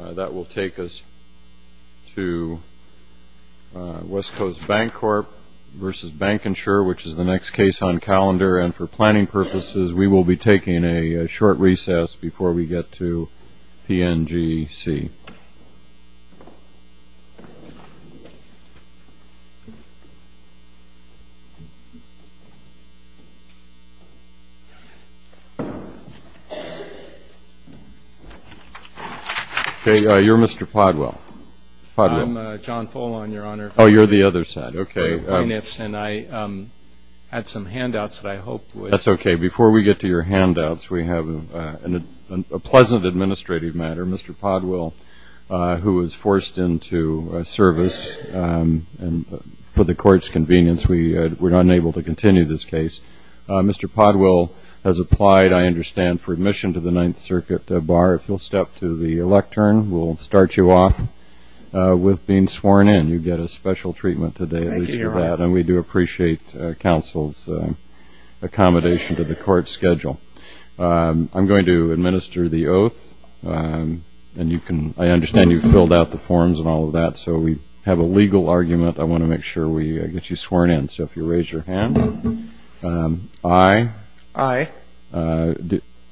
That will take us to West Coast Bancorp v. Bancinsure, which is the next case on calendar. And for planning purposes, we will be taking a short recess before we get to PNGC. You're Mr. Podwell. I'm John Folan, Your Honor. Oh, you're the other side. Okay. And I had some handouts that I hope would... That's okay. Before we get to your handouts, we have a pleasant administrative matter. Mr. Podwell, who was forced into service for the Court's convenience, we're unable to continue this case. Mr. Podwell has applied, I understand, for admission to the Ninth Circuit Bar. If you'll step to the lectern, we'll start you off with being sworn in. You get a special treatment today, at least for that. Thank you, Your Honor. And we do appreciate counsel's accommodation to the Court's schedule. I'm going to administer the oath, and you can... I understand you filled out the forms and all of that, so we have a legal argument. I want to make sure we get you sworn in. So if you raise your hand. Aye. Aye. Laura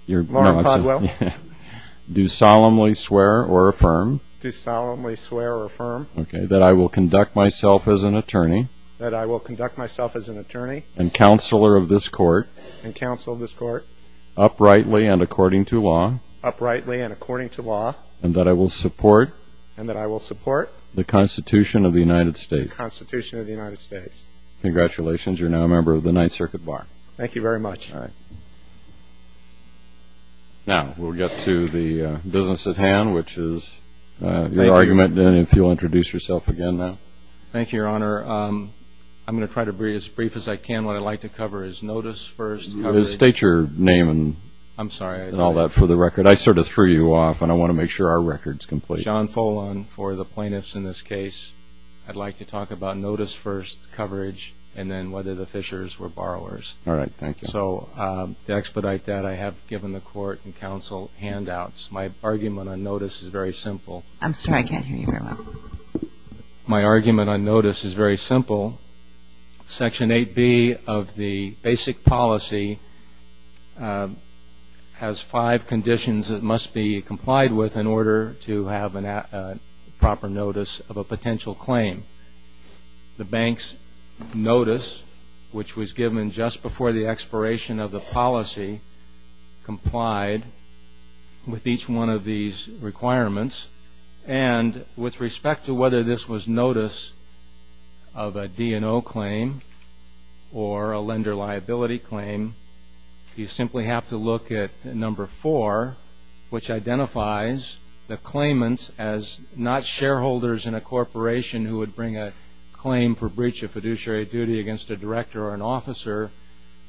Podwell. Do solemnly swear or affirm. Do solemnly swear or affirm. Okay, that I will conduct myself as an attorney. That I will conduct myself as an attorney. And counselor of this Court. And counselor of this Court. Uprightly and according to law. Uprightly and according to law. And that I will support. And that I will support. The Constitution of the United States. The Constitution of the United States. Congratulations. You're now a member of the Ninth Circuit Bar. Thank you very much. All right. Now we'll get to the business at hand, which is your argument. And if you'll introduce yourself again now. Thank you, Your Honor. I'm going to try to be as brief as I can. What I'd like to cover is notice, first, coverage. State your name and all that for the record. I sort of threw you off, and I want to make sure our record's complete. John Folon for the plaintiffs in this case. I'd like to talk about notice first, coverage, and then whether the Fishers were borrowers. All right. Thank you. So to expedite that, I have given the Court and counsel handouts. My argument on notice is very simple. I'm sorry. I can't hear you very well. My argument on notice is very simple. Section 8B of the basic policy has five conditions it must be complied with in order to have a proper notice of a potential claim. The bank's notice, which was given just before the expiration of the policy, complied with each one of these requirements. And with respect to whether this was notice of a D&O claim or a lender liability claim, you simply have to look at number four, which identifies the claimants as not shareholders in a corporation who would bring a claim for breach of fiduciary duty against a director or an officer,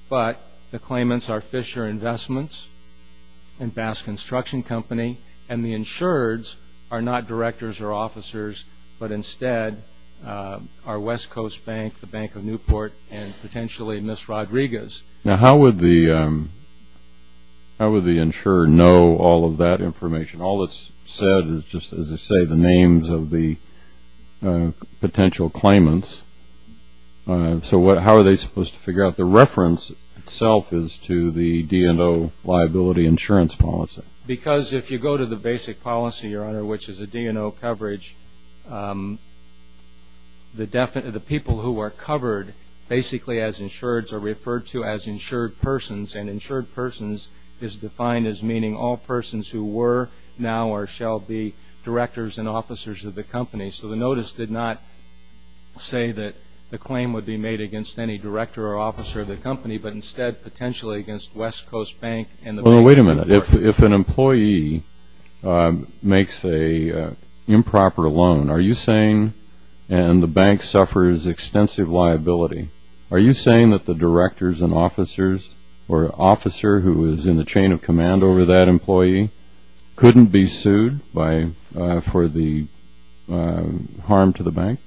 but the claimants are Fisher Investments and Bass Construction Company, and the insureds are not directors or officers, but instead are West Coast Bank, the Bank of Newport, and potentially Miss Rodriguez. Now, how would the insured know all of that information? All that's said is just, as I say, the names of the potential claimants. So how are they supposed to figure out the reference itself as to the D&O liability insurance policy? Because if you go to the basic policy, Your Honor, which is a D&O coverage, the people who are covered basically as insureds are referred to as insured persons, and insured persons is defined as meaning all persons who were, now, or shall be directors and officers of the company. So the notice did not say that the claim would be made against any director or officer of the company, but instead potentially against West Coast Bank and the Bank of Newport. If an employee makes an improper loan, are you saying, and the bank suffers extensive liability, are you saying that the directors and officers or officer who is in the chain of command over that employee couldn't be sued for the harm to the bank?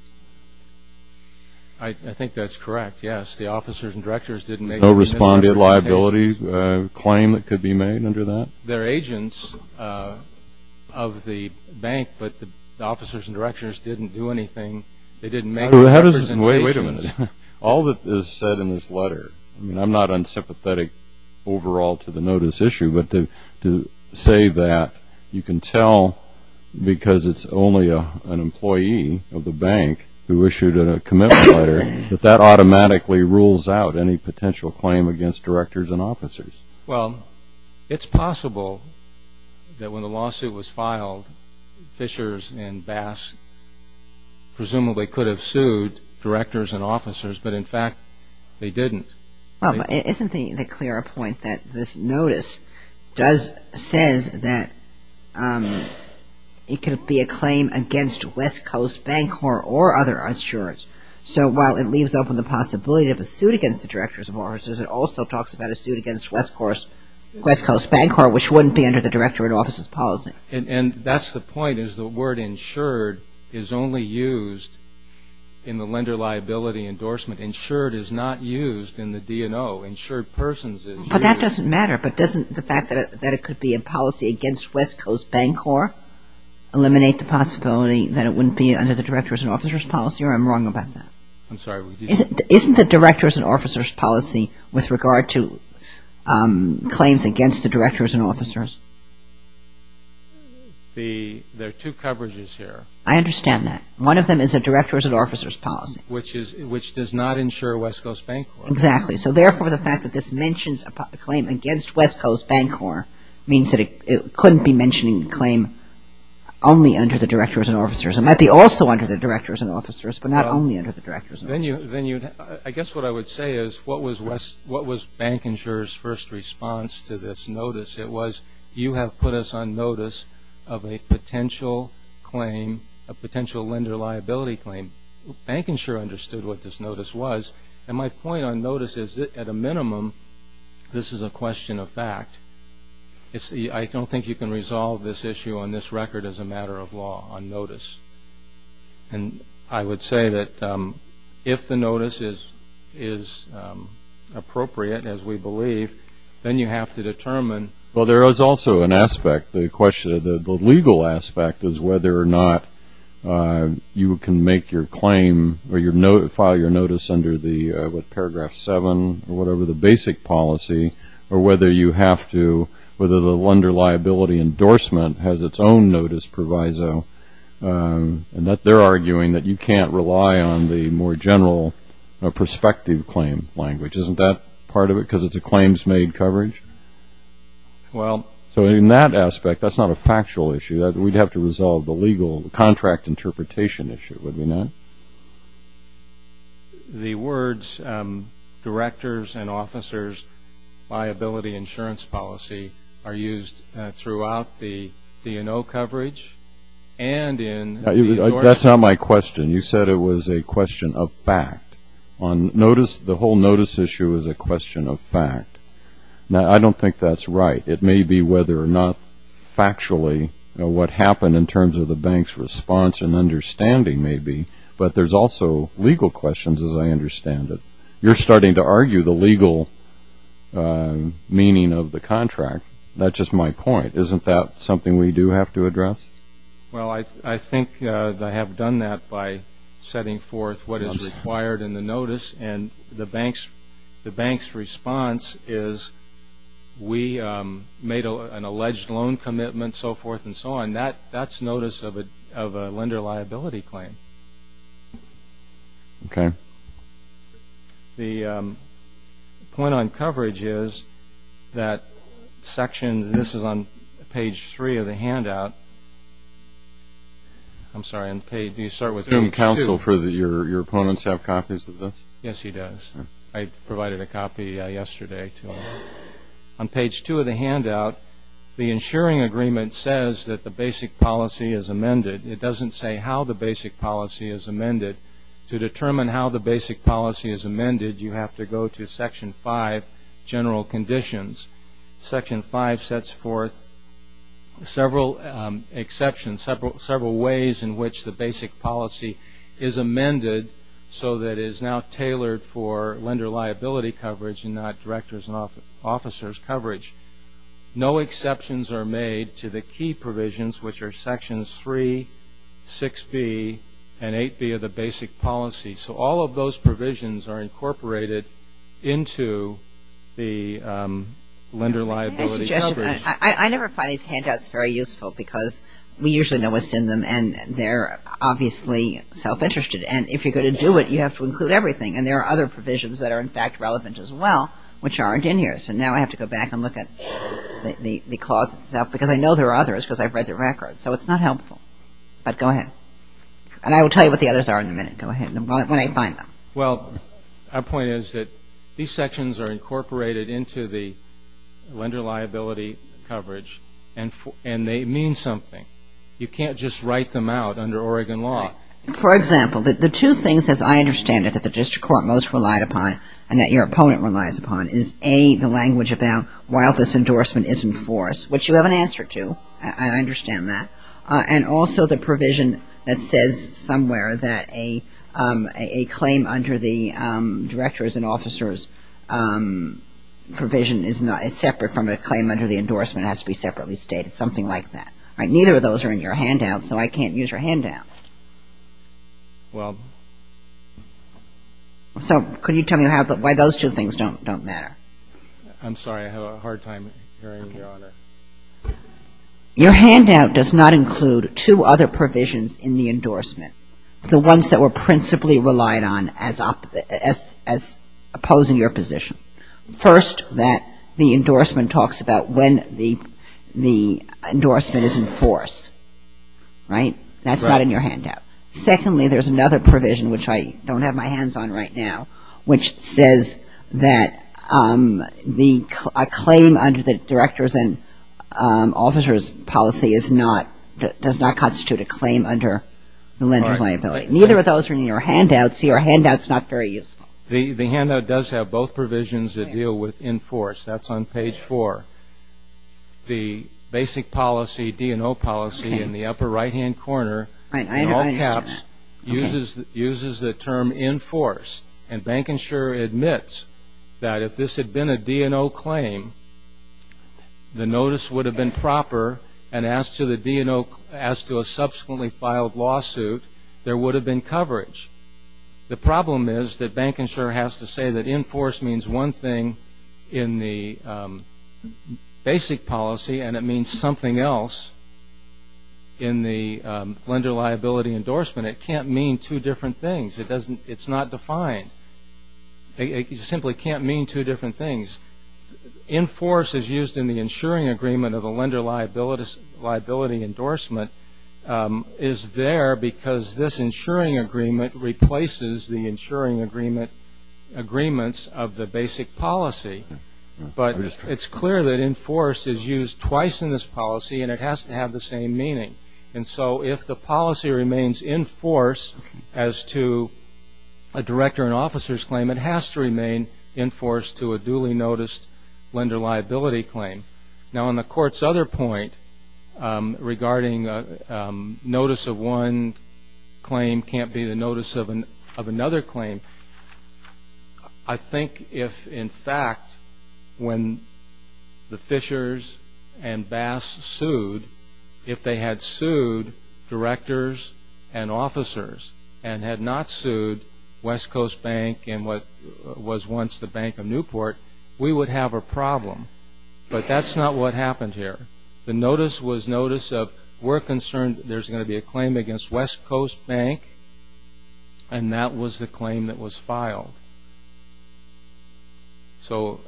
I think that's correct, yes. The officers and directors didn't make any misrepresentations. A claim that could be made under that? They're agents of the bank, but the officers and directors didn't do anything. They didn't make any representations. Wait a minute. All that is said in this letter, I mean, I'm not unsympathetic overall to the notice issue, but to say that you can tell because it's only an employee of the bank who issued a commitment letter, that that automatically rules out any potential claim against directors and officers. Well, it's possible that when the lawsuit was filed, Fishers and Bass presumably could have sued directors and officers, but in fact they didn't. Well, isn't it a clear point that this notice says that it could be a claim against West Coast Bank or other insurers? So while it leaves open the possibility of a suit against the directors and officers, it also talks about a suit against West Coast Bank, which wouldn't be under the director and officers policy. And that's the point is the word insured is only used in the lender liability endorsement. Insured is not used in the DNO. Insured persons is used. But that doesn't matter. But doesn't the fact that it could be a policy against West Coast Bank or eliminate the possibility that it wouldn't be under the directors and officers policy, or am I wrong about that? I'm sorry. Isn't the directors and officers policy with regard to claims against the directors and officers? There are two coverages here. I understand that. One of them is a directors and officers policy. Which does not insure West Coast Bank. Exactly. So therefore the fact that this mentions a claim against West Coast Bank means that it couldn't be mentioning a claim only under the directors and officers. It might be also under the directors and officers, but not only under the directors and officers. I guess what I would say is what was bank insurer's first response to this notice? It was you have put us on notice of a potential claim, a potential lender liability claim. Bank insurer understood what this notice was. And my point on notice is that at a minimum this is a question of fact. I don't think you can resolve this issue on this record as a matter of law on notice. And I would say that if the notice is appropriate, as we believe, then you have to determine. Well, there is also an aspect. The question of the legal aspect is whether or not you can make your claim or file your notice under the, what, Paragraph 7 or whatever the basic policy, or whether you have to, whether the lender liability endorsement has its own notice proviso, and that they're arguing that you can't rely on the more general prospective claim language. Isn't that part of it because it's a claims-made coverage? Well. So in that aspect, that's not a factual issue. We'd have to resolve the legal contract interpretation issue, would we not? The words directors and officers liability insurance policy are used throughout the D&O coverage and in the endorsement. That's not my question. You said it was a question of fact. On notice, the whole notice issue is a question of fact. Now, I don't think that's right. It may be whether or not factually what happened in terms of the bank's response and understanding may be, but there's also legal questions, as I understand it. You're starting to argue the legal meaning of the contract. That's just my point. Isn't that something we do have to address? Well, I think they have done that by setting forth what is required in the notice, and the bank's response is we made an alleged loan commitment, so forth and so on. That's notice of a lender liability claim. Okay. The point on coverage is that sections, this is on page three of the handout. I'm sorry, do you start with page two? Does the counsel for your opponents have copies of this? Yes, he does. I provided a copy yesterday. On page two of the handout, the insuring agreement says that the basic policy is amended. It doesn't say how the basic policy is amended. To determine how the basic policy is amended, you have to go to section five, general conditions. Section five sets forth several exceptions, several ways in which the basic policy is amended so that it is now tailored for lender liability coverage and not director's and officer's coverage. No exceptions are made to the key provisions, which are sections three, 6B, and 8B of the basic policy. So all of those provisions are incorporated into the lender liability coverage. I never find these handouts very useful because we usually know what's in them, and they're obviously self-interested. And if you're going to do it, you have to include everything. And there are other provisions that are, in fact, relevant as well, which aren't in here. So now I have to go back and look at the clause itself because I know there are others because I've read the record, so it's not helpful. But go ahead. And I will tell you what the others are in a minute. Go ahead. When I find them. Well, our point is that these sections are incorporated into the lender liability coverage, and they mean something. You can't just write them out under Oregon law. For example, the two things, as I understand it, that the district court most relied upon and that your opponent relies upon is, A, the language about while this endorsement is in force, which you have an answer to. I understand that. And also the provision that says somewhere that a claim under the director's and officer's provision is separate from a claim under the endorsement has to be separately stated, something like that. All right. Neither of those are in your handout, so I can't use your handout. Well. So could you tell me why those two things don't matter? I'm sorry. I had a hard time hearing, Your Honor. Your handout does not include two other provisions in the endorsement, the ones that were principally relied on as opposing your position. First, that the endorsement talks about when the endorsement is in force. Right? That's not in your handout. Secondly, there's another provision, which I don't have my hands on right now, which says that a claim under the director's and officer's policy does not constitute a claim under the lender liability. Right. Neither of those are in your handout, so your handout's not very useful. The handout does have both provisions that deal with in force. That's on page four. The basic policy, D&O policy, in the upper right-hand corner, in all caps, uses the term in force. And Bank Insure admits that if this had been a D&O claim, the notice would have been proper, and as to a subsequently filed lawsuit, there would have been coverage. The problem is that Bank Insure has to say that in force means one thing in the basic policy, and it means something else in the lender liability endorsement. It can't mean two different things. It's not defined. It simply can't mean two different things. In force is used in the insuring agreement of the lender liability endorsement is there because this insuring agreement replaces the insuring agreements of the basic policy. But it's clear that in force is used twice in this policy, and it has to have the same meaning. And so if the policy remains in force as to a director and officer's claim, it has to remain in force to a duly noticed lender liability claim. Now, on the Court's other point regarding notice of one claim can't be the notice of another claim, I think if, in fact, when the Fishers and Bass sued, if they had sued directors and officers and had not sued West Coast Bank and what was once the Bank of Newport, we would have a problem. But that's not what happened here. The notice was notice of we're concerned there's going to be a claim against West Coast Bank, and that was the claim that was filed. So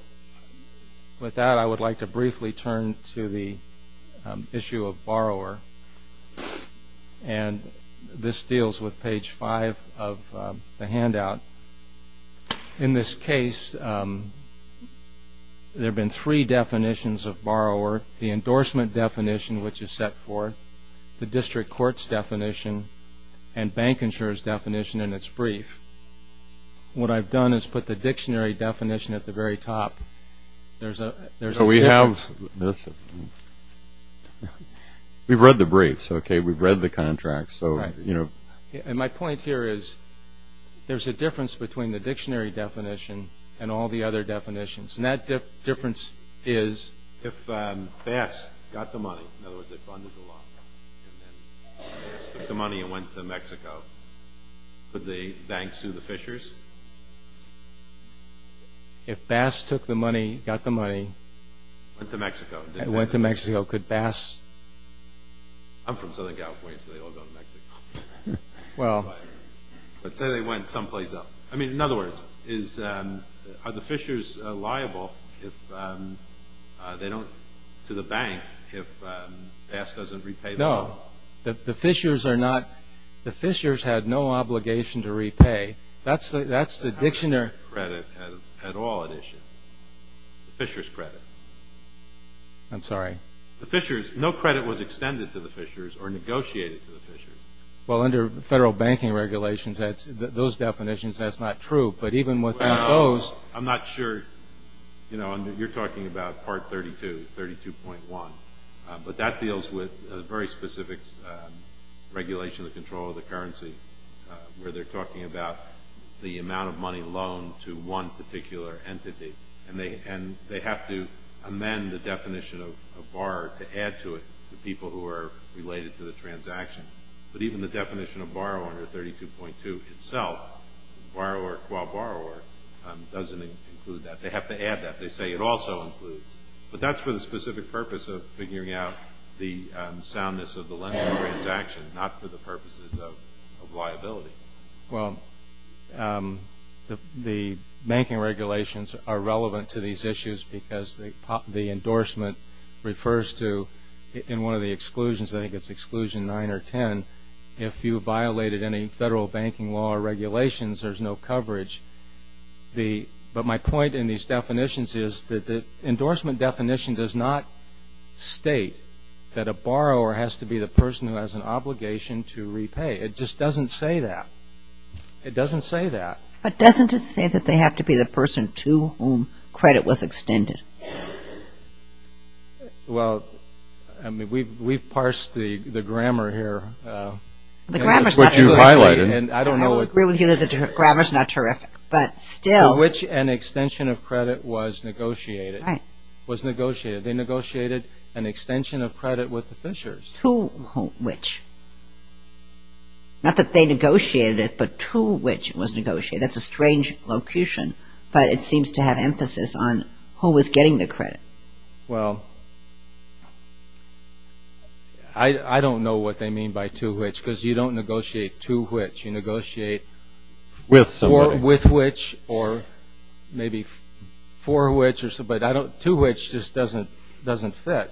with that, I would like to briefly turn to the issue of borrower, and this deals with page five of the handout. In this case, there have been three definitions of borrower, the endorsement definition, which is set forth, the district court's definition, and bank insurer's definition in its brief. What I've done is put the dictionary definition at the very top. So we have this. We've read the briefs, okay? We've read the contracts, so, you know. And my point here is there's a difference between the dictionary definition and all the other definitions, and that difference is? If Bass got the money, in other words, they funded the law, and then Bass took the money and went to Mexico, could the bank sue the Fishers? If Bass took the money, got the money. Went to Mexico. Went to Mexico. Could Bass? I'm from Southern California, so they all go to Mexico. Well. Let's say they went someplace else. I mean, in other words, are the Fishers liable to the bank if Bass doesn't repay the loan? No. The Fishers are not. The Fishers had no obligation to repay. That's the dictionary. They didn't have any credit at all at issue. The Fishers' credit. I'm sorry? The Fishers. No credit was extended to the Fishers or negotiated to the Fishers. Well, under federal banking regulations, those definitions, that's not true. But even with those. I'm not sure. You know, you're talking about Part 32, 32.1. But that deals with a very specific regulation of the control of the currency, where they're talking about the amount of money loaned to one particular entity, and they have to amend the definition of borrower to add to it the people who are related to the transaction. But even the definition of borrower under 32.2 itself, borrower qua borrower, doesn't include that. They have to add that. They say it also includes. But that's for the specific purpose of figuring out the soundness of the lending transaction, not for the purposes of liability. Well, the banking regulations are relevant to these issues because the endorsement refers to, in one of the exclusions, I think it's exclusion 9 or 10, if you violated any federal banking law or regulations, there's no coverage. But my point in these definitions is that the endorsement definition does not state that a borrower has to be the person who has an obligation to repay. It just doesn't say that. It doesn't say that. But doesn't it say that they have to be the person to whom credit was extended? Well, I mean, we've parsed the grammar here. That's what you've highlighted. And I don't know. I would agree with you that the grammar's not terrific. But still. To which an extension of credit was negotiated. Right. Was negotiated. They negotiated an extension of credit with the fishers. To which. Not that they negotiated it, but to which it was negotiated. That's a strange locution. But it seems to have emphasis on who was getting the credit. Well, I don't know what they mean by to which because you don't negotiate to which. You negotiate with which or maybe for which. But to which just doesn't fit.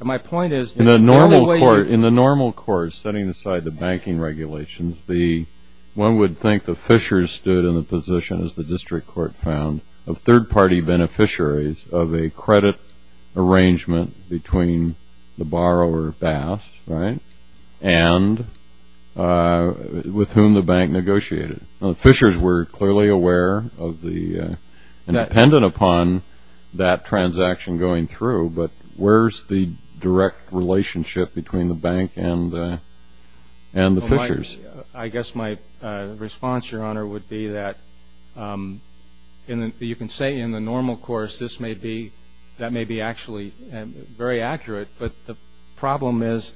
And my point is. In the normal course, setting aside the banking regulations, one would think the fishers stood in the position, as the district court found, of third-party beneficiaries of a credit arrangement between the borrower, Bass, and with whom the bank negotiated. Now, the fishers were clearly aware and dependent upon that transaction going through. But where's the direct relationship between the bank and the fishers? I guess my response, Your Honor, would be that you can say in the normal course, that may be actually very accurate. But the problem is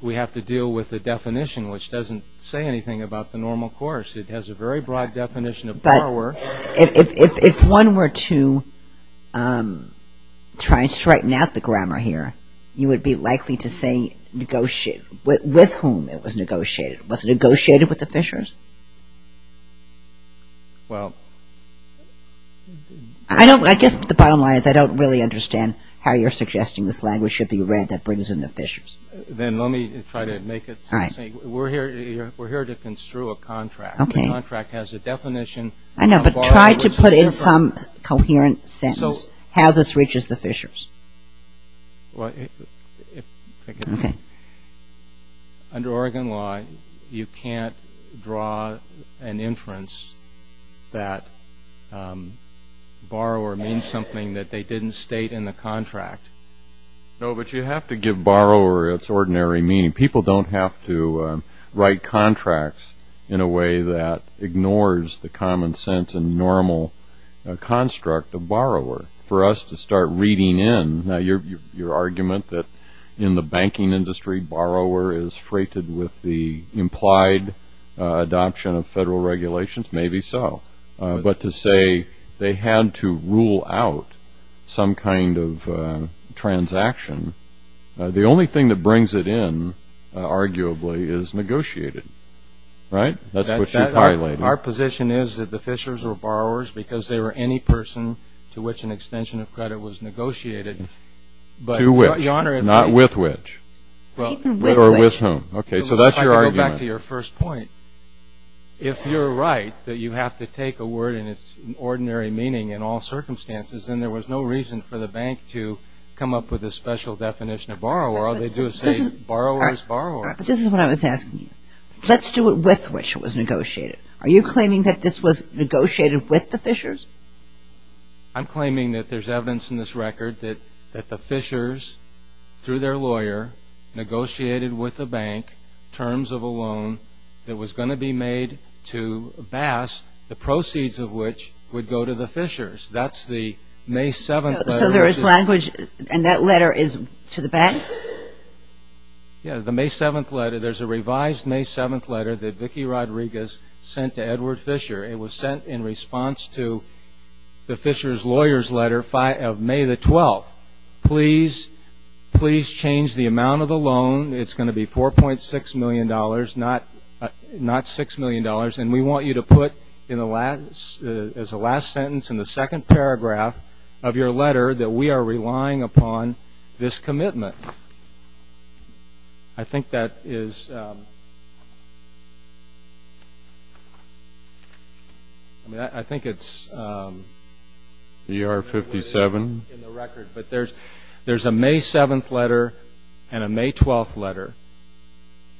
we have to deal with the definition, which doesn't say anything about the normal course. It has a very broad definition of borrower. If one were to try and straighten out the grammar here, you would be likely to say negotiate with whom it was negotiated. Was it negotiated with the fishers? Well. I guess the bottom line is I don't really understand how you're suggesting this language should be read that brings in the fishers. Then let me try to make it so. We're here to construe a contract. Okay. The contract has a definition. I know, but try to put in some coherent sentence how this reaches the fishers. Well, if I could. Okay. Under Oregon law, you can't draw an inference that borrower means something that they didn't state in the contract. No, but you have to give borrower its ordinary meaning. People don't have to write contracts in a way that ignores the common sense and normal construct of borrower. For us to start reading in your argument that in the banking industry, borrower is freighted with the implied adoption of federal regulations, maybe so. But to say they had to rule out some kind of transaction, the only thing that brings it in, arguably, is negotiated. Right? That's what you're highlighting. Our position is that the fishers were borrowers because they were any person to which an extension of credit was negotiated. To which? Your Honor. Not with which? With whom? Okay, so that's your argument. If I could go back to your first point. If you're right that you have to take a word and its ordinary meaning in all circumstances, then there was no reason for the bank to come up with a special definition of borrower. All they do is say borrower is borrower. But this is what I was asking you. Let's do it with which it was negotiated. Are you claiming that this was negotiated with the fishers? I'm claiming that there's evidence in this record that the fishers, through their lawyer, negotiated with the bank terms of a loan that was going to be made to Bass, the proceeds of which would go to the fishers. That's the May 7th letter. So there is language and that letter is to the bank? Yeah, the May 7th letter. There's a revised May 7th letter that Vicki Rodriguez sent to Edward Fisher. It was sent in response to the Fisher's lawyer's letter of May the 12th. Please, please change the amount of the loan. It's going to be $4.6 million, not $6 million. And we want you to put as a last sentence in the second paragraph of your letter that we are relying upon this commitment. I think that is, I mean, I think it's in the record. But there's a May 7th letter and a May 12th letter.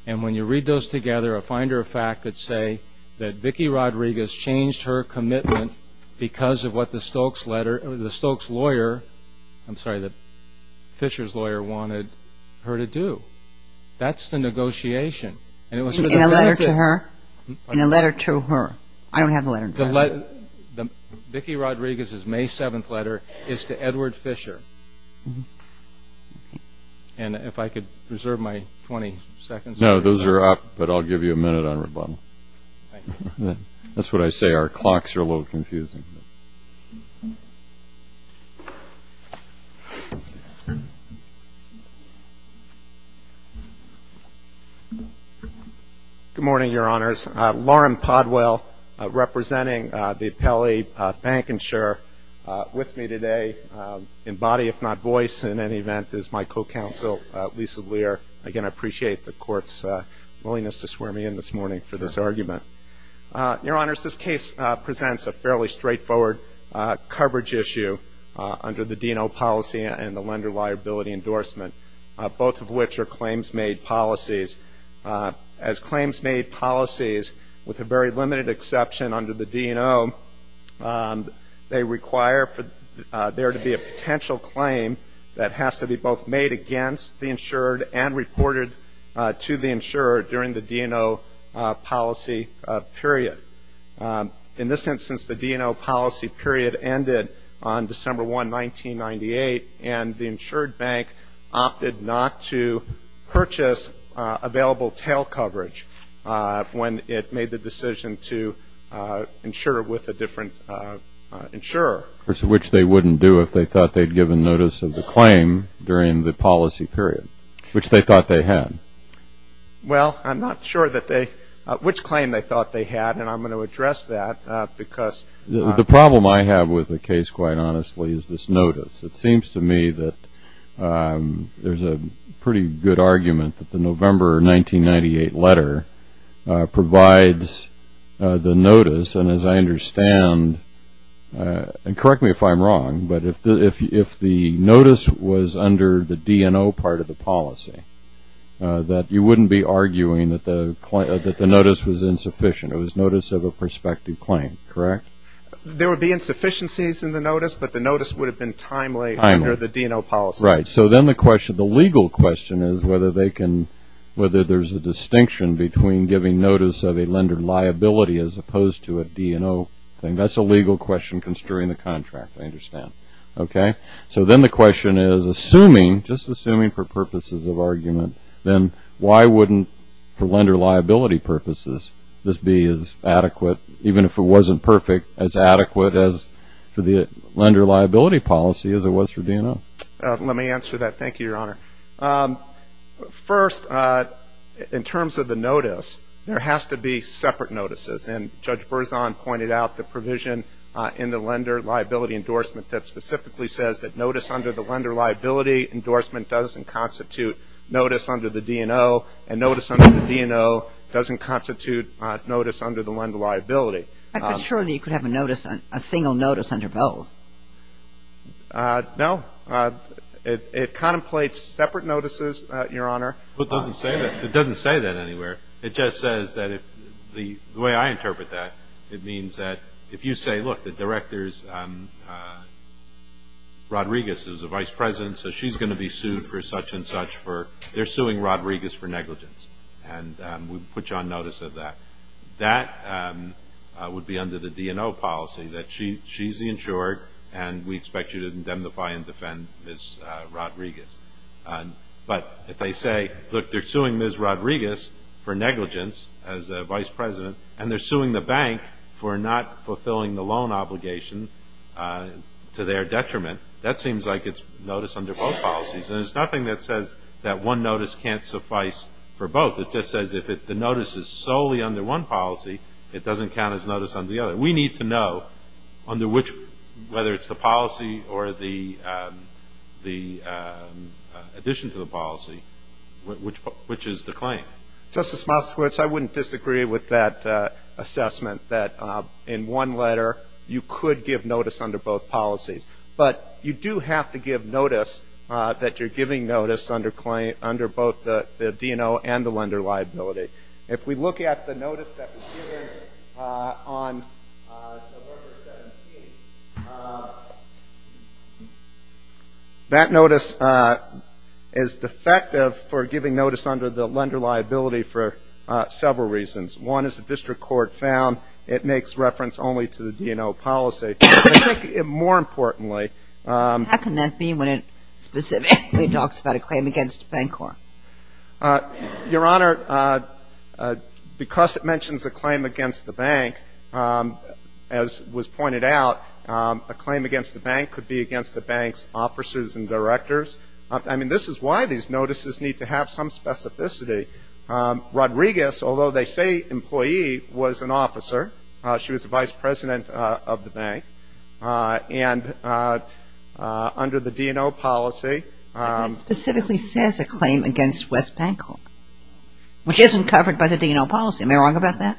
And when you read those together, a finder of fact could say that Vicki Rodriguez changed her commitment because of what the Stokes lawyer, I'm sorry, the Fisher's lawyer wanted her to do. That's the negotiation. In a letter to her? In a letter to her. I don't have the letter in front of me. Vicki Rodriguez's May 7th letter is to Edward Fisher. And if I could reserve my 20 seconds. No, those are up, but I'll give you a minute on rebuttal. That's what I say. Our clocks are a little confusing. Good morning, Your Honors. Lauren Podwell representing the appellee bank insurer with me today. In body, if not voice, in any event, is my co-counsel, Lisa Lear. Again, I appreciate the Court's willingness to swear me in this morning for this argument. Your Honors, this case presents a fairly straightforward coverage issue under the DNO policy and the lender liability endorsement, both of which are claims-made policies. As claims-made policies, with a very limited exception under the DNO, they require there to be a potential claim that has to be both made against the insured and reported to the insurer during the DNO policy period. In this instance, the DNO policy period ended on December 1, 1998, and the insured bank opted not to purchase available tail coverage when it made the decision to insure with a different insurer. Which they wouldn't do if they thought they'd given notice of the claim during the policy period, which they thought they had. Well, I'm not sure which claim they thought they had, and I'm going to address that. The problem I have with the case, quite honestly, is this notice. It seems to me that there's a pretty good argument that the November 1998 letter provides the notice, and as I understand, and correct me if I'm wrong, but if the notice was under the DNO part of the policy, that you wouldn't be arguing that the notice was insufficient. It was notice of a prospective claim, correct? There would be insufficiencies in the notice, but the notice would have been timely under the DNO policy. Right. So then the legal question is whether there's a distinction between giving notice of a lender liability as opposed to a DNO thing. That's a legal question construing the contract, I understand. Okay. So then the question is, just assuming for purposes of argument, then why wouldn't, for lender liability purposes, this be as adequate, even if it wasn't perfect, as adequate as for the lender liability policy as it was for DNO? Let me answer that. Thank you, Your Honor. First, in terms of the notice, there has to be separate notices, and Judge Berzon pointed out the provision in the lender liability endorsement that specifically says that notice under the lender liability endorsement doesn't constitute notice under the DNO, and notice under the DNO doesn't constitute notice under the lender liability. But surely you could have a notice, a single notice under both. No. It contemplates separate notices, Your Honor. It doesn't say that. It doesn't say that anywhere. It just says that if the way I interpret that, it means that if you say, look, the director's, Rodriguez is the vice president, so she's going to be sued for such and such for, they're suing Rodriguez for negligence, and we put you on notice of that. That would be under the DNO policy, that she's the insured, and we expect you to indemnify and defend Ms. Rodriguez. But if they say, look, they're suing Ms. Rodriguez for negligence as vice president, and they're suing the bank for not fulfilling the loan obligation to their detriment, that seems like it's notice under both policies. And there's nothing that says that one notice can't suffice for both. It just says if the notice is solely under one policy, it doesn't count as notice under the other. We need to know under which, whether it's the policy or the addition to the policy, which is the claim. Justice Moskowitz, I wouldn't disagree with that assessment, that in one letter you could give notice under both policies. But you do have to give notice that you're giving notice under both the DNO and the lender liability. If we look at the notice that was given on November 17th, that notice is defective for giving notice under the lender liability for several reasons. One is the district court found it makes reference only to the DNO policy. And I think more importantly ‑‑ How can that be when it specifically talks about a claim against the bank court? Your Honor, because it mentions a claim against the bank, as was pointed out, a claim against the bank could be against the bank's officers and directors. I mean, this is why these notices need to have some specificity. Rodriguez, although they say employee, was an officer. She was the vice president of the bank. And under the DNO policy ‑‑ But that specifically says a claim against West Bank Court, which isn't covered by the DNO policy. Am I wrong about that?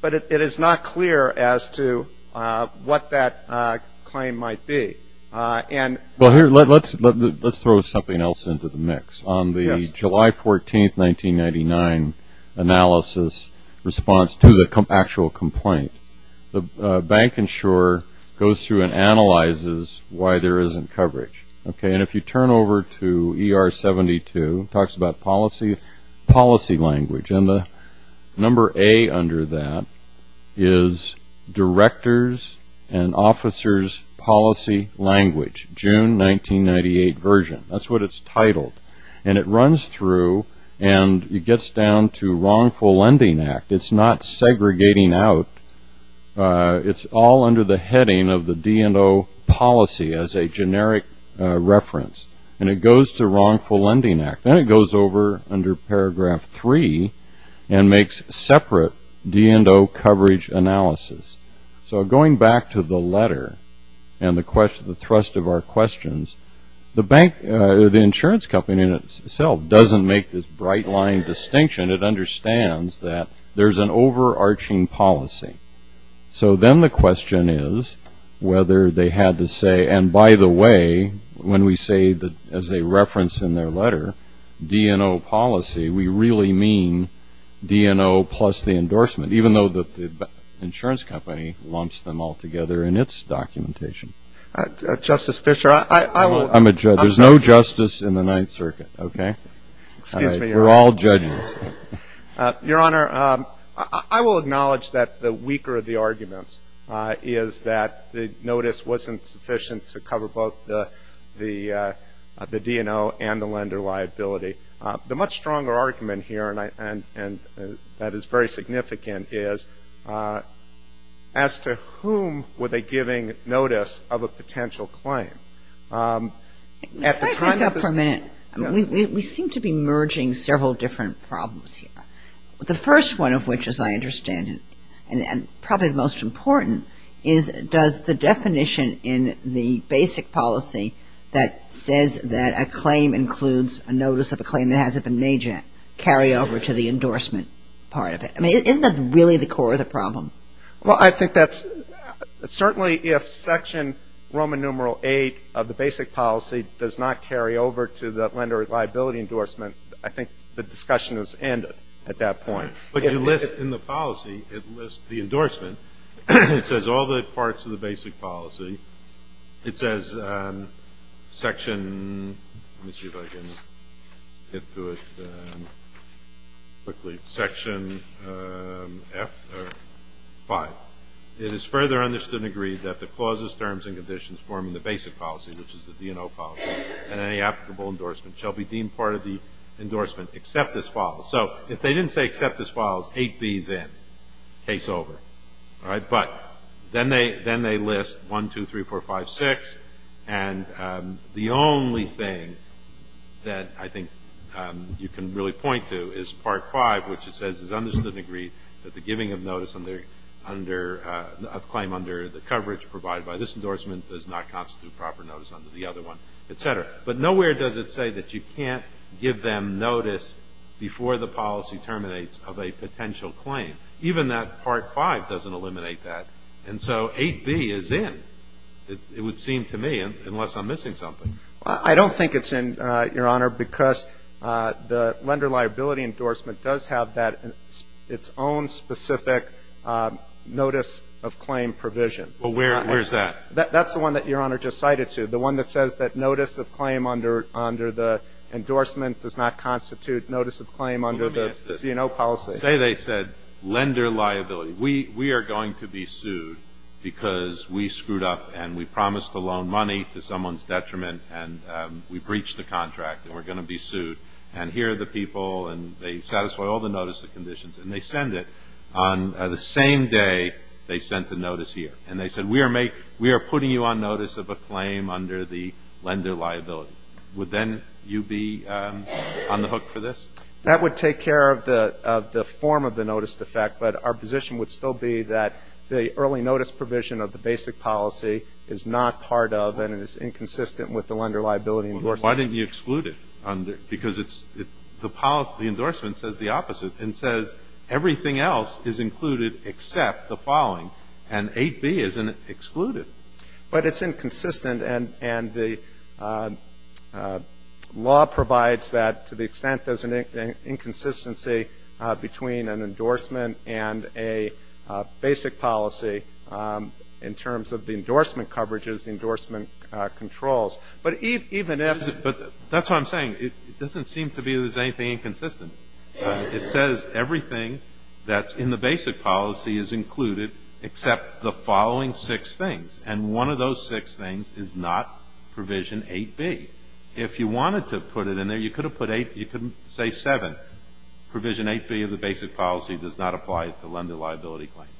But it is not clear as to what that claim might be. Let's throw something else into the mix. On the July 14th, 1999, analysis response to the actual complaint, the bank insurer goes through and analyzes why there isn't coverage. And if you turn over to ER 72, it talks about policy language. And the number A under that is Directors and Officers Policy Language, June 1998 version. That's what it's titled. And it runs through and it gets down to Wrongful Lending Act. It's not segregating out. It's all under the heading of the DNO policy as a generic reference. And it goes to Wrongful Lending Act. Then it goes over under paragraph 3 and makes separate DNO coverage analysis. So going back to the letter and the thrust of our questions, the insurance company in itself doesn't make this bright line distinction. It understands that there's an overarching policy. So then the question is whether they had to say, and by the way, when we say that as a reference in their letter, DNO policy, we really mean DNO plus the endorsement, even though the insurance company lumps them all together in its documentation. Justice Fisher, I will ---- I'm a judge. There's no justice in the Ninth Circuit. Okay? Excuse me, Your Honor. We're all judges. Your Honor, I will acknowledge that the weaker of the arguments is that the notice wasn't sufficient to cover both the DNO and the lender liability. The much stronger argument here, and that is very significant, is as to whom were they giving notice of a potential claim? At the time that this ---- Can I back up for a minute? We seem to be merging several different problems here. The first one of which, as I understand it, and probably the most important, is does the definition in the basic policy that says that a claim includes a notice of a claim that hasn't been made yet carry over to the endorsement part of it? I mean, isn't that really the core of the problem? Well, I think that's ---- Certainly if Section Roman numeral VIII of the basic policy does not carry over to the lender liability endorsement, I think the discussion is ended at that point. In the policy, it lists the endorsement. It says all the parts of the basic policy. It says Section ---- let me see if I can get to it quickly. Section F or V. It is further understood and agreed that the clauses, terms, and conditions forming the basic policy, which is the DNO policy, and any applicable endorsement shall be deemed part of the endorsement, except as follows. So if they didn't say except as follows, 8B is in. Case over. But then they list 1, 2, 3, 4, 5, 6, and the only thing that I think you can really point to is Part V, which it says is understood and agreed that the giving of notice of claim under the coverage provided by this endorsement does not constitute proper notice under the other one, et cetera. But nowhere does it say that you can't give them notice before the policy terminates of a potential claim. Even that Part V doesn't eliminate that. And so 8B is in, it would seem to me, unless I'm missing something. I don't think it's in, Your Honor, because the lender liability endorsement does have its own specific notice of claim provision. Well, where is that? That's the one that Your Honor just cited to you, the one that says that notice of claim under the endorsement does not constitute notice of claim under the C&O policy. Well, let me ask this. Say they said lender liability. We are going to be sued because we screwed up and we promised to loan money to someone's detriment and we breached the contract and we're going to be sued. And here are the people and they satisfy all the notice of conditions, and they send it on the same day they sent the notice here. And they said we are putting you on notice of a claim under the lender liability. Would then you be on the hook for this? That would take care of the form of the notice defect, but our position would still be that the early notice provision of the basic policy is not part of and is inconsistent with the lender liability endorsement. Well, why didn't you exclude it? Because the endorsement says the opposite. It says everything else is included except the following. And 8B isn't excluded. But it's inconsistent, and the law provides that to the extent there's an inconsistency between an endorsement and a basic policy in terms of the endorsement coverages, the endorsement controls. But even if. But that's what I'm saying. It doesn't seem to be there's anything inconsistent. It says everything that's in the basic policy is included except the following six things. And one of those six things is not provision 8B. If you wanted to put it in there, you could have put 8, you could say 7. Provision 8B of the basic policy does not apply to lender liability claims.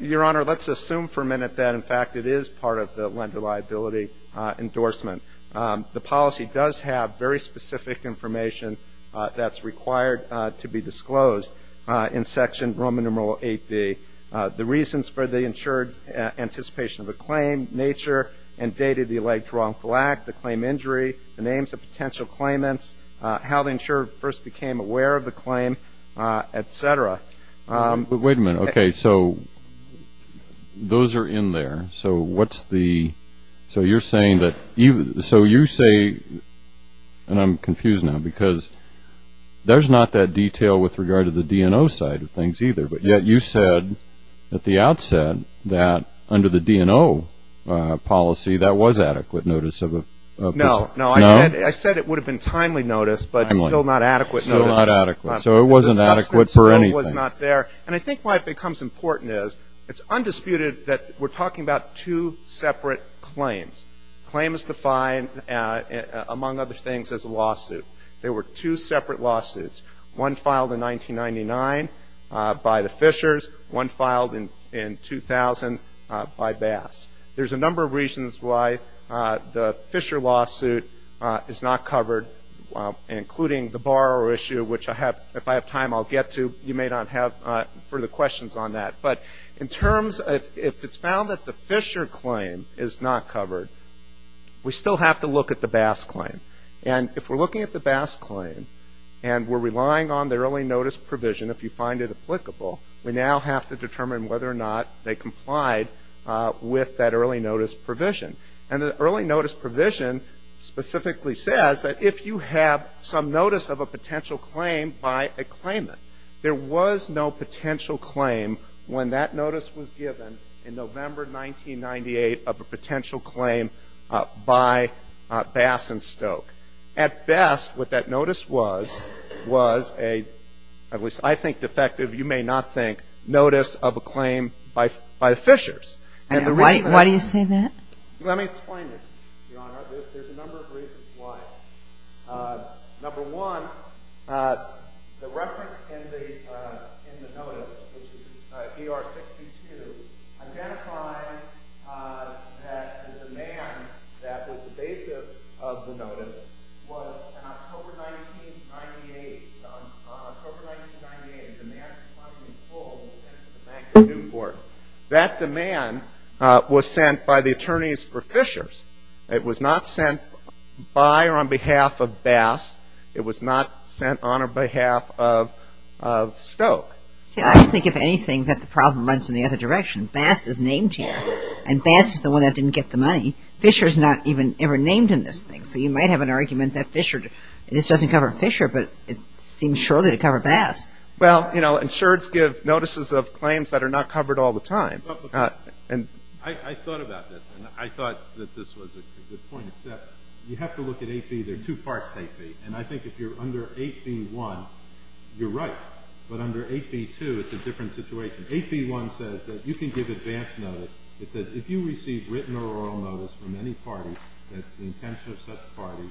Your Honor, let's assume for a minute that, in fact, it is part of the lender liability endorsement. The policy does have very specific information that's required to be disclosed in Section Roman numeral 8B. The reasons for the insured's anticipation of a claim, nature, and date of the alleged wrongful act, the claim injury, the names of potential claimants, how the insured first became aware of the claim, et cetera. Wait a minute. Okay, so those are in there. So what's the, so you're saying that, so you say, and I'm confused now, because there's not that detail with regard to the D&O side of things either. But yet you said at the outset that under the D&O policy that was adequate notice of. No, no. No? I said it would have been timely notice, but still not adequate notice. Still not adequate. So it wasn't adequate for anything. It still was not there. And I think why it becomes important is it's undisputed that we're talking about two separate claims. Claim is defined, among other things, as a lawsuit. There were two separate lawsuits, one filed in 1999 by the Fishers, one filed in 2000 by Bass. There's a number of reasons why the Fisher lawsuit is not covered, including the borrower issue, which if I have time I'll get to. You may not have further questions on that. But in terms of if it's found that the Fisher claim is not covered, we still have to look at the Bass claim. And if we're looking at the Bass claim and we're relying on the early notice provision, if you find it applicable, we now have to determine whether or not they complied with that early notice provision. And the early notice provision specifically says that if you have some notice of a potential claim by a claimant, there was no potential claim when that notice was given in November 1998 of a potential claim by Bass and Stoke. At best, what that notice was, was a, at least I think defective, you may not think, notice of a claim by the Fishers. Why do you say that? Let me explain this, Your Honor. There's a number of reasons why. Number one, the reference in the notice, which is ER-62, identifies that the demand that was the basis of the notice was in October 1998. On October 1998, a demand for funding was pulled and sent to the Bank of Newport. That demand was sent by the attorneys for Fishers. It was not sent by or on behalf of Bass. It was not sent on or behalf of Stoke. See, I don't think, if anything, that the problem runs in the other direction. Bass is named here. And Bass is the one that didn't get the money. Fisher is not even ever named in this thing. So you might have an argument that Fisher, this doesn't cover Fisher, but it seems surely to cover Bass. Well, you know, insureds give notices of claims that are not covered all the time. I thought about this, and I thought that this was a good point, except you have to look at 8B. There are two parts to 8B. And I think if you're under 8B-1, you're right. But under 8B-2, it's a different situation. 8B-1 says that you can give advance notice. It says, if you receive written or oral notice from any party that's the intention of such a party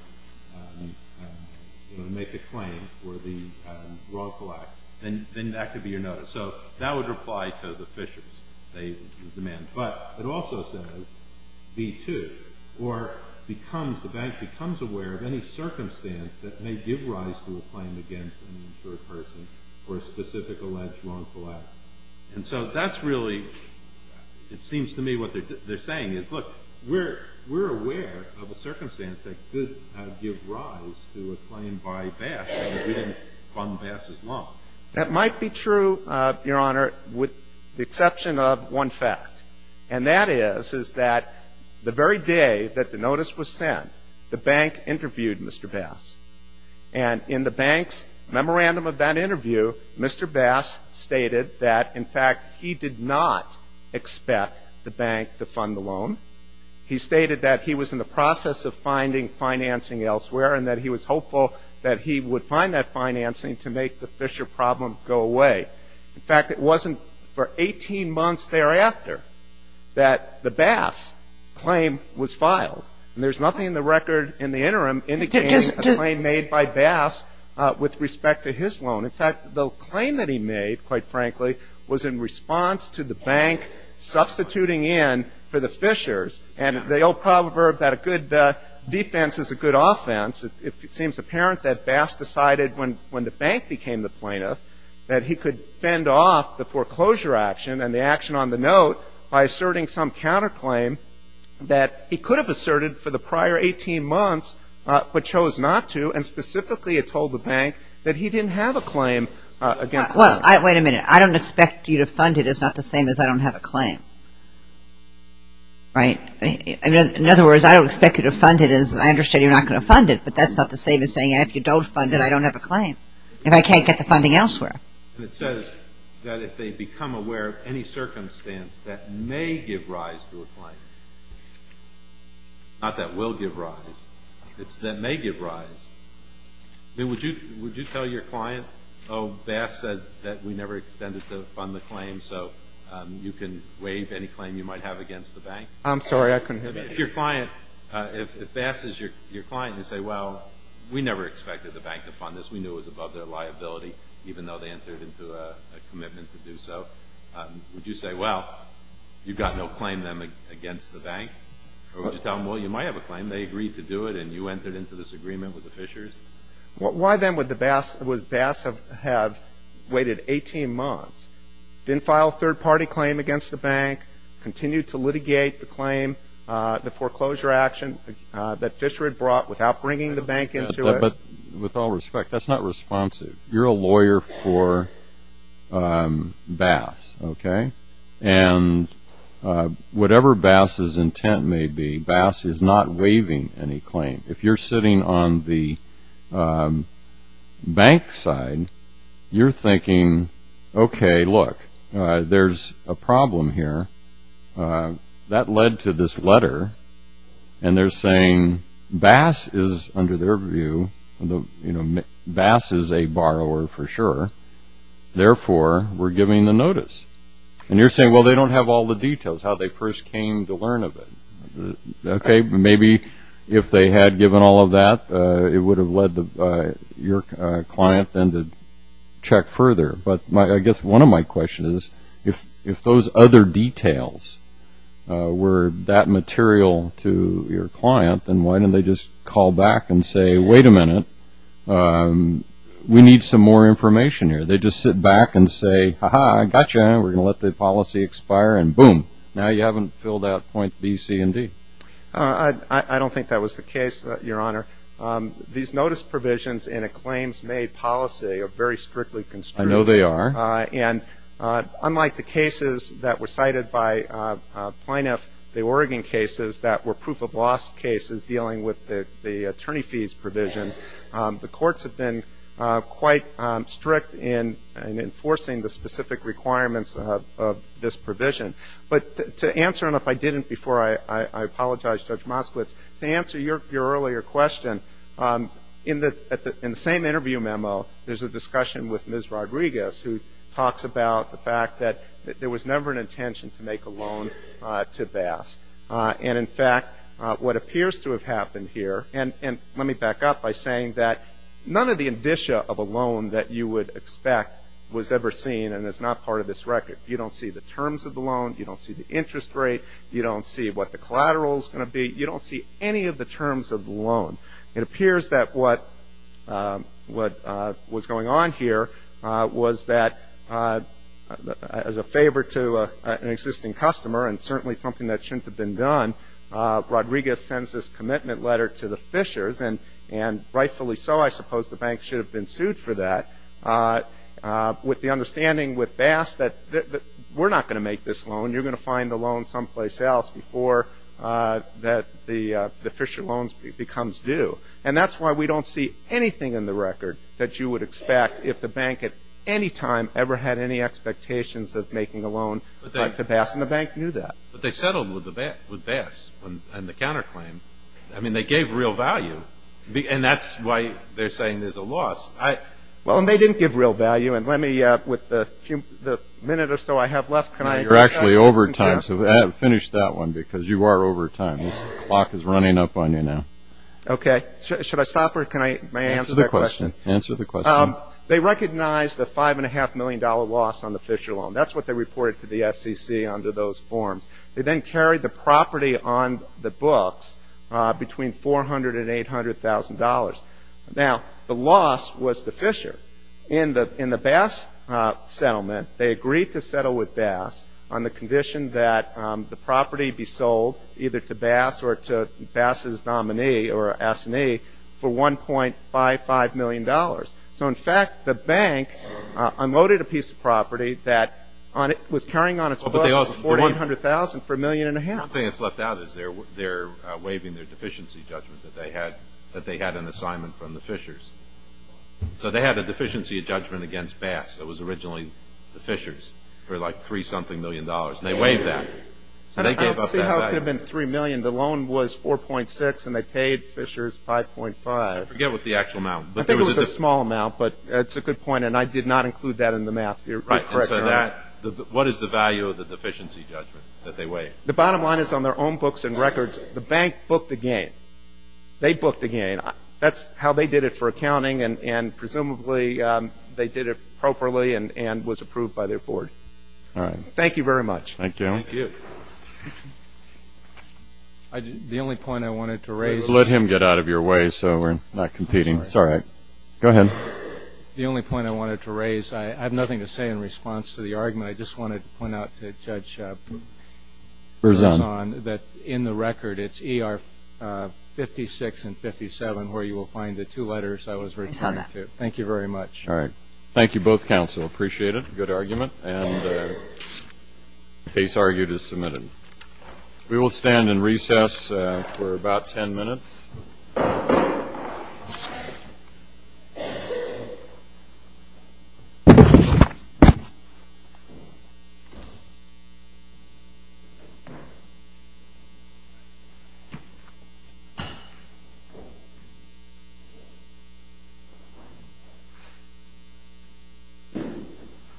to make a claim for the wrongful act, then that could be your notice. So that would reply to the Fishers, the demand. But it also says B-2, or the bank becomes aware of any circumstance that may give rise to a claim against an insured person for a specific alleged wrongful act. And so that's really, it seems to me what they're saying is, look, we're aware of a circumstance that could give rise to a claim by Bass, and we didn't fund Bass as long. That might be true, Your Honor, with the exception of one fact. And that is, is that the very day that the notice was sent, the bank interviewed Mr. Bass. And in the bank's memorandum of that interview, Mr. Bass stated that, in fact, he did not expect the bank to fund the loan. He stated that he was in the process of finding financing elsewhere and that he was hopeful that he would find that financing to make the Fisher problem go away. In fact, it wasn't for 18 months thereafter that the Bass claim was filed. And there's nothing in the record in the interim indicating a claim made by Bass with respect to his loan. In fact, the claim that he made, quite frankly, was in response to the bank substituting in for the Fishers. And they all proverb that a good defense is a good offense. It seems apparent that Bass decided when the bank became the plaintiff that he could fend off the foreclosure action and the action on the note by asserting some counterclaim that he could have asserted for the prior 18 months but chose not to. And specifically, it told the bank that he didn't have a claim against the bank. Well, wait a minute. I don't expect you to fund it. It's not the same as I don't have a claim. Right? In other words, I don't expect you to fund it as I understand you're not going to fund it. But that's not the same as saying, if you don't fund it, I don't have a claim, if I can't get the funding elsewhere. And it says that if they become aware of any circumstance that may give rise to a claim, not that will give rise, it's that may give rise. I mean, would you tell your client, oh, Bass says that we never extended to fund the claim, so you can waive any claim you might have against the bank? I'm sorry. I couldn't hear you. If your client, if Bass is your client, you say, well, we never expected the bank to fund this. We knew it was above their liability, even though they entered into a commitment to do so. Would you say, well, you've got no claim against the bank? Or would you tell them, well, you might have a claim. They agreed to do it, and you entered into this agreement with the Fishers? Why, then, would Bass have waited 18 months, didn't file a third-party claim against the bank, continued to litigate the claim, the foreclosure action that Fisher had brought without bringing the bank into it? But with all respect, that's not responsive. You're a lawyer for Bass, okay? And whatever Bass's intent may be, Bass is not waiving any claim. If you're sitting on the bank side, you're thinking, okay, look, there's a problem here. That led to this letter, and they're saying Bass is, under their view, you know, Bass is a borrower for sure. Therefore, we're giving the notice. And you're saying, well, they don't have all the details, how they first came to learn of it. Okay, maybe if they had given all of that, it would have led your client then to check further. But I guess one of my questions is, if those other details were that material to your client, then why didn't they just call back and say, wait a minute, we need some more information here? They just sit back and say, ha-ha, I got you, and we're going to let the policy expire, and boom. Now you haven't filled out point B, C, and D. I don't think that was the case, Your Honor. These notice provisions in a claims-made policy are very strictly constricted. I know they are. And unlike the cases that were cited by Plaintiff, the Oregon cases, that were proof-of-loss cases dealing with the attorney fees provision, the courts have been quite strict in enforcing the specific requirements of this provision. But to answer, and if I didn't before, I apologize, Judge Moskowitz, to answer your earlier question, in the same interview memo there's a discussion with Ms. Rodriguez, who talks about the fact that there was never an intention to make a loan to Bass. And, in fact, what appears to have happened here, and let me back up by saying that none of the indicia of a loan that you would expect was ever seen and is not part of this record. You don't see the terms of the loan. You don't see the interest rate. You don't see what the collateral is going to be. You don't see any of the terms of the loan. It appears that what was going on here was that as a favor to an existing customer and certainly something that shouldn't have been done, Rodriguez sends this commitment letter to the Fishers, and rightfully so I suppose the bank should have been sued for that, with the understanding with Bass that we're not going to make this loan. You're going to find the loan someplace else before the Fisher loan becomes due. And that's why we don't see anything in the record that you would expect if the bank at any time ever had any expectations of making a loan like the Bass, and the bank knew that. But they settled with Bass on the counterclaim. I mean, they gave real value, and that's why they're saying there's a loss. Well, and they didn't give real value. And let me, with the minute or so I have left, can I? You're actually over time, so finish that one because you are over time. The clock is running up on you now. Okay. Should I stop or can I answer the question? Answer the question. They recognized the $5.5 million loss on the Fisher loan. That's what they reported to the SEC under those forms. They then carried the property on the books between $400,000 and $800,000. Now, the loss was to Fisher. In the Bass settlement, they agreed to settle with Bass on the condition that the property be sold either to Bass or to Bass's nominee or assignee for $1.55 million. So, in fact, the bank unloaded a piece of property that was carrying on its books $400,000 to $800,000 for $1.5 million. One thing that's left out is they're waiving their deficiency judgment that they had an assignment from the Fishers. So they had a deficiency judgment against Bass that was originally the Fishers for like $3-something million. They waived that. I don't see how it could have been $3 million. The loan was $4.6 million, and they paid Fishers $5.5 million. I forget what the actual amount was. I think it was a small amount, but it's a good point, and I did not include that in the math here. Right. What is the value of the deficiency judgment that they waived? The bottom line is on their own books and records, the bank booked again. They booked again. That's how they did it for accounting, and presumably they did it properly and was approved by their board. All right. Thank you very much. Thank you. Thank you. The only point I wanted to raise is – Let him get out of your way so we're not competing. Sorry. Go ahead. The only point I wanted to raise, I have nothing to say in response to the argument. I just want to point out to Judge Berzon that in the record it's ER 56 and 57 where you will find the two letters I was referring to. I saw that. Thank you very much. All right. Thank you both, counsel. Appreciate it. Good argument, and case argued as submitted. We will stand in recess for about 10 minutes. Thank you.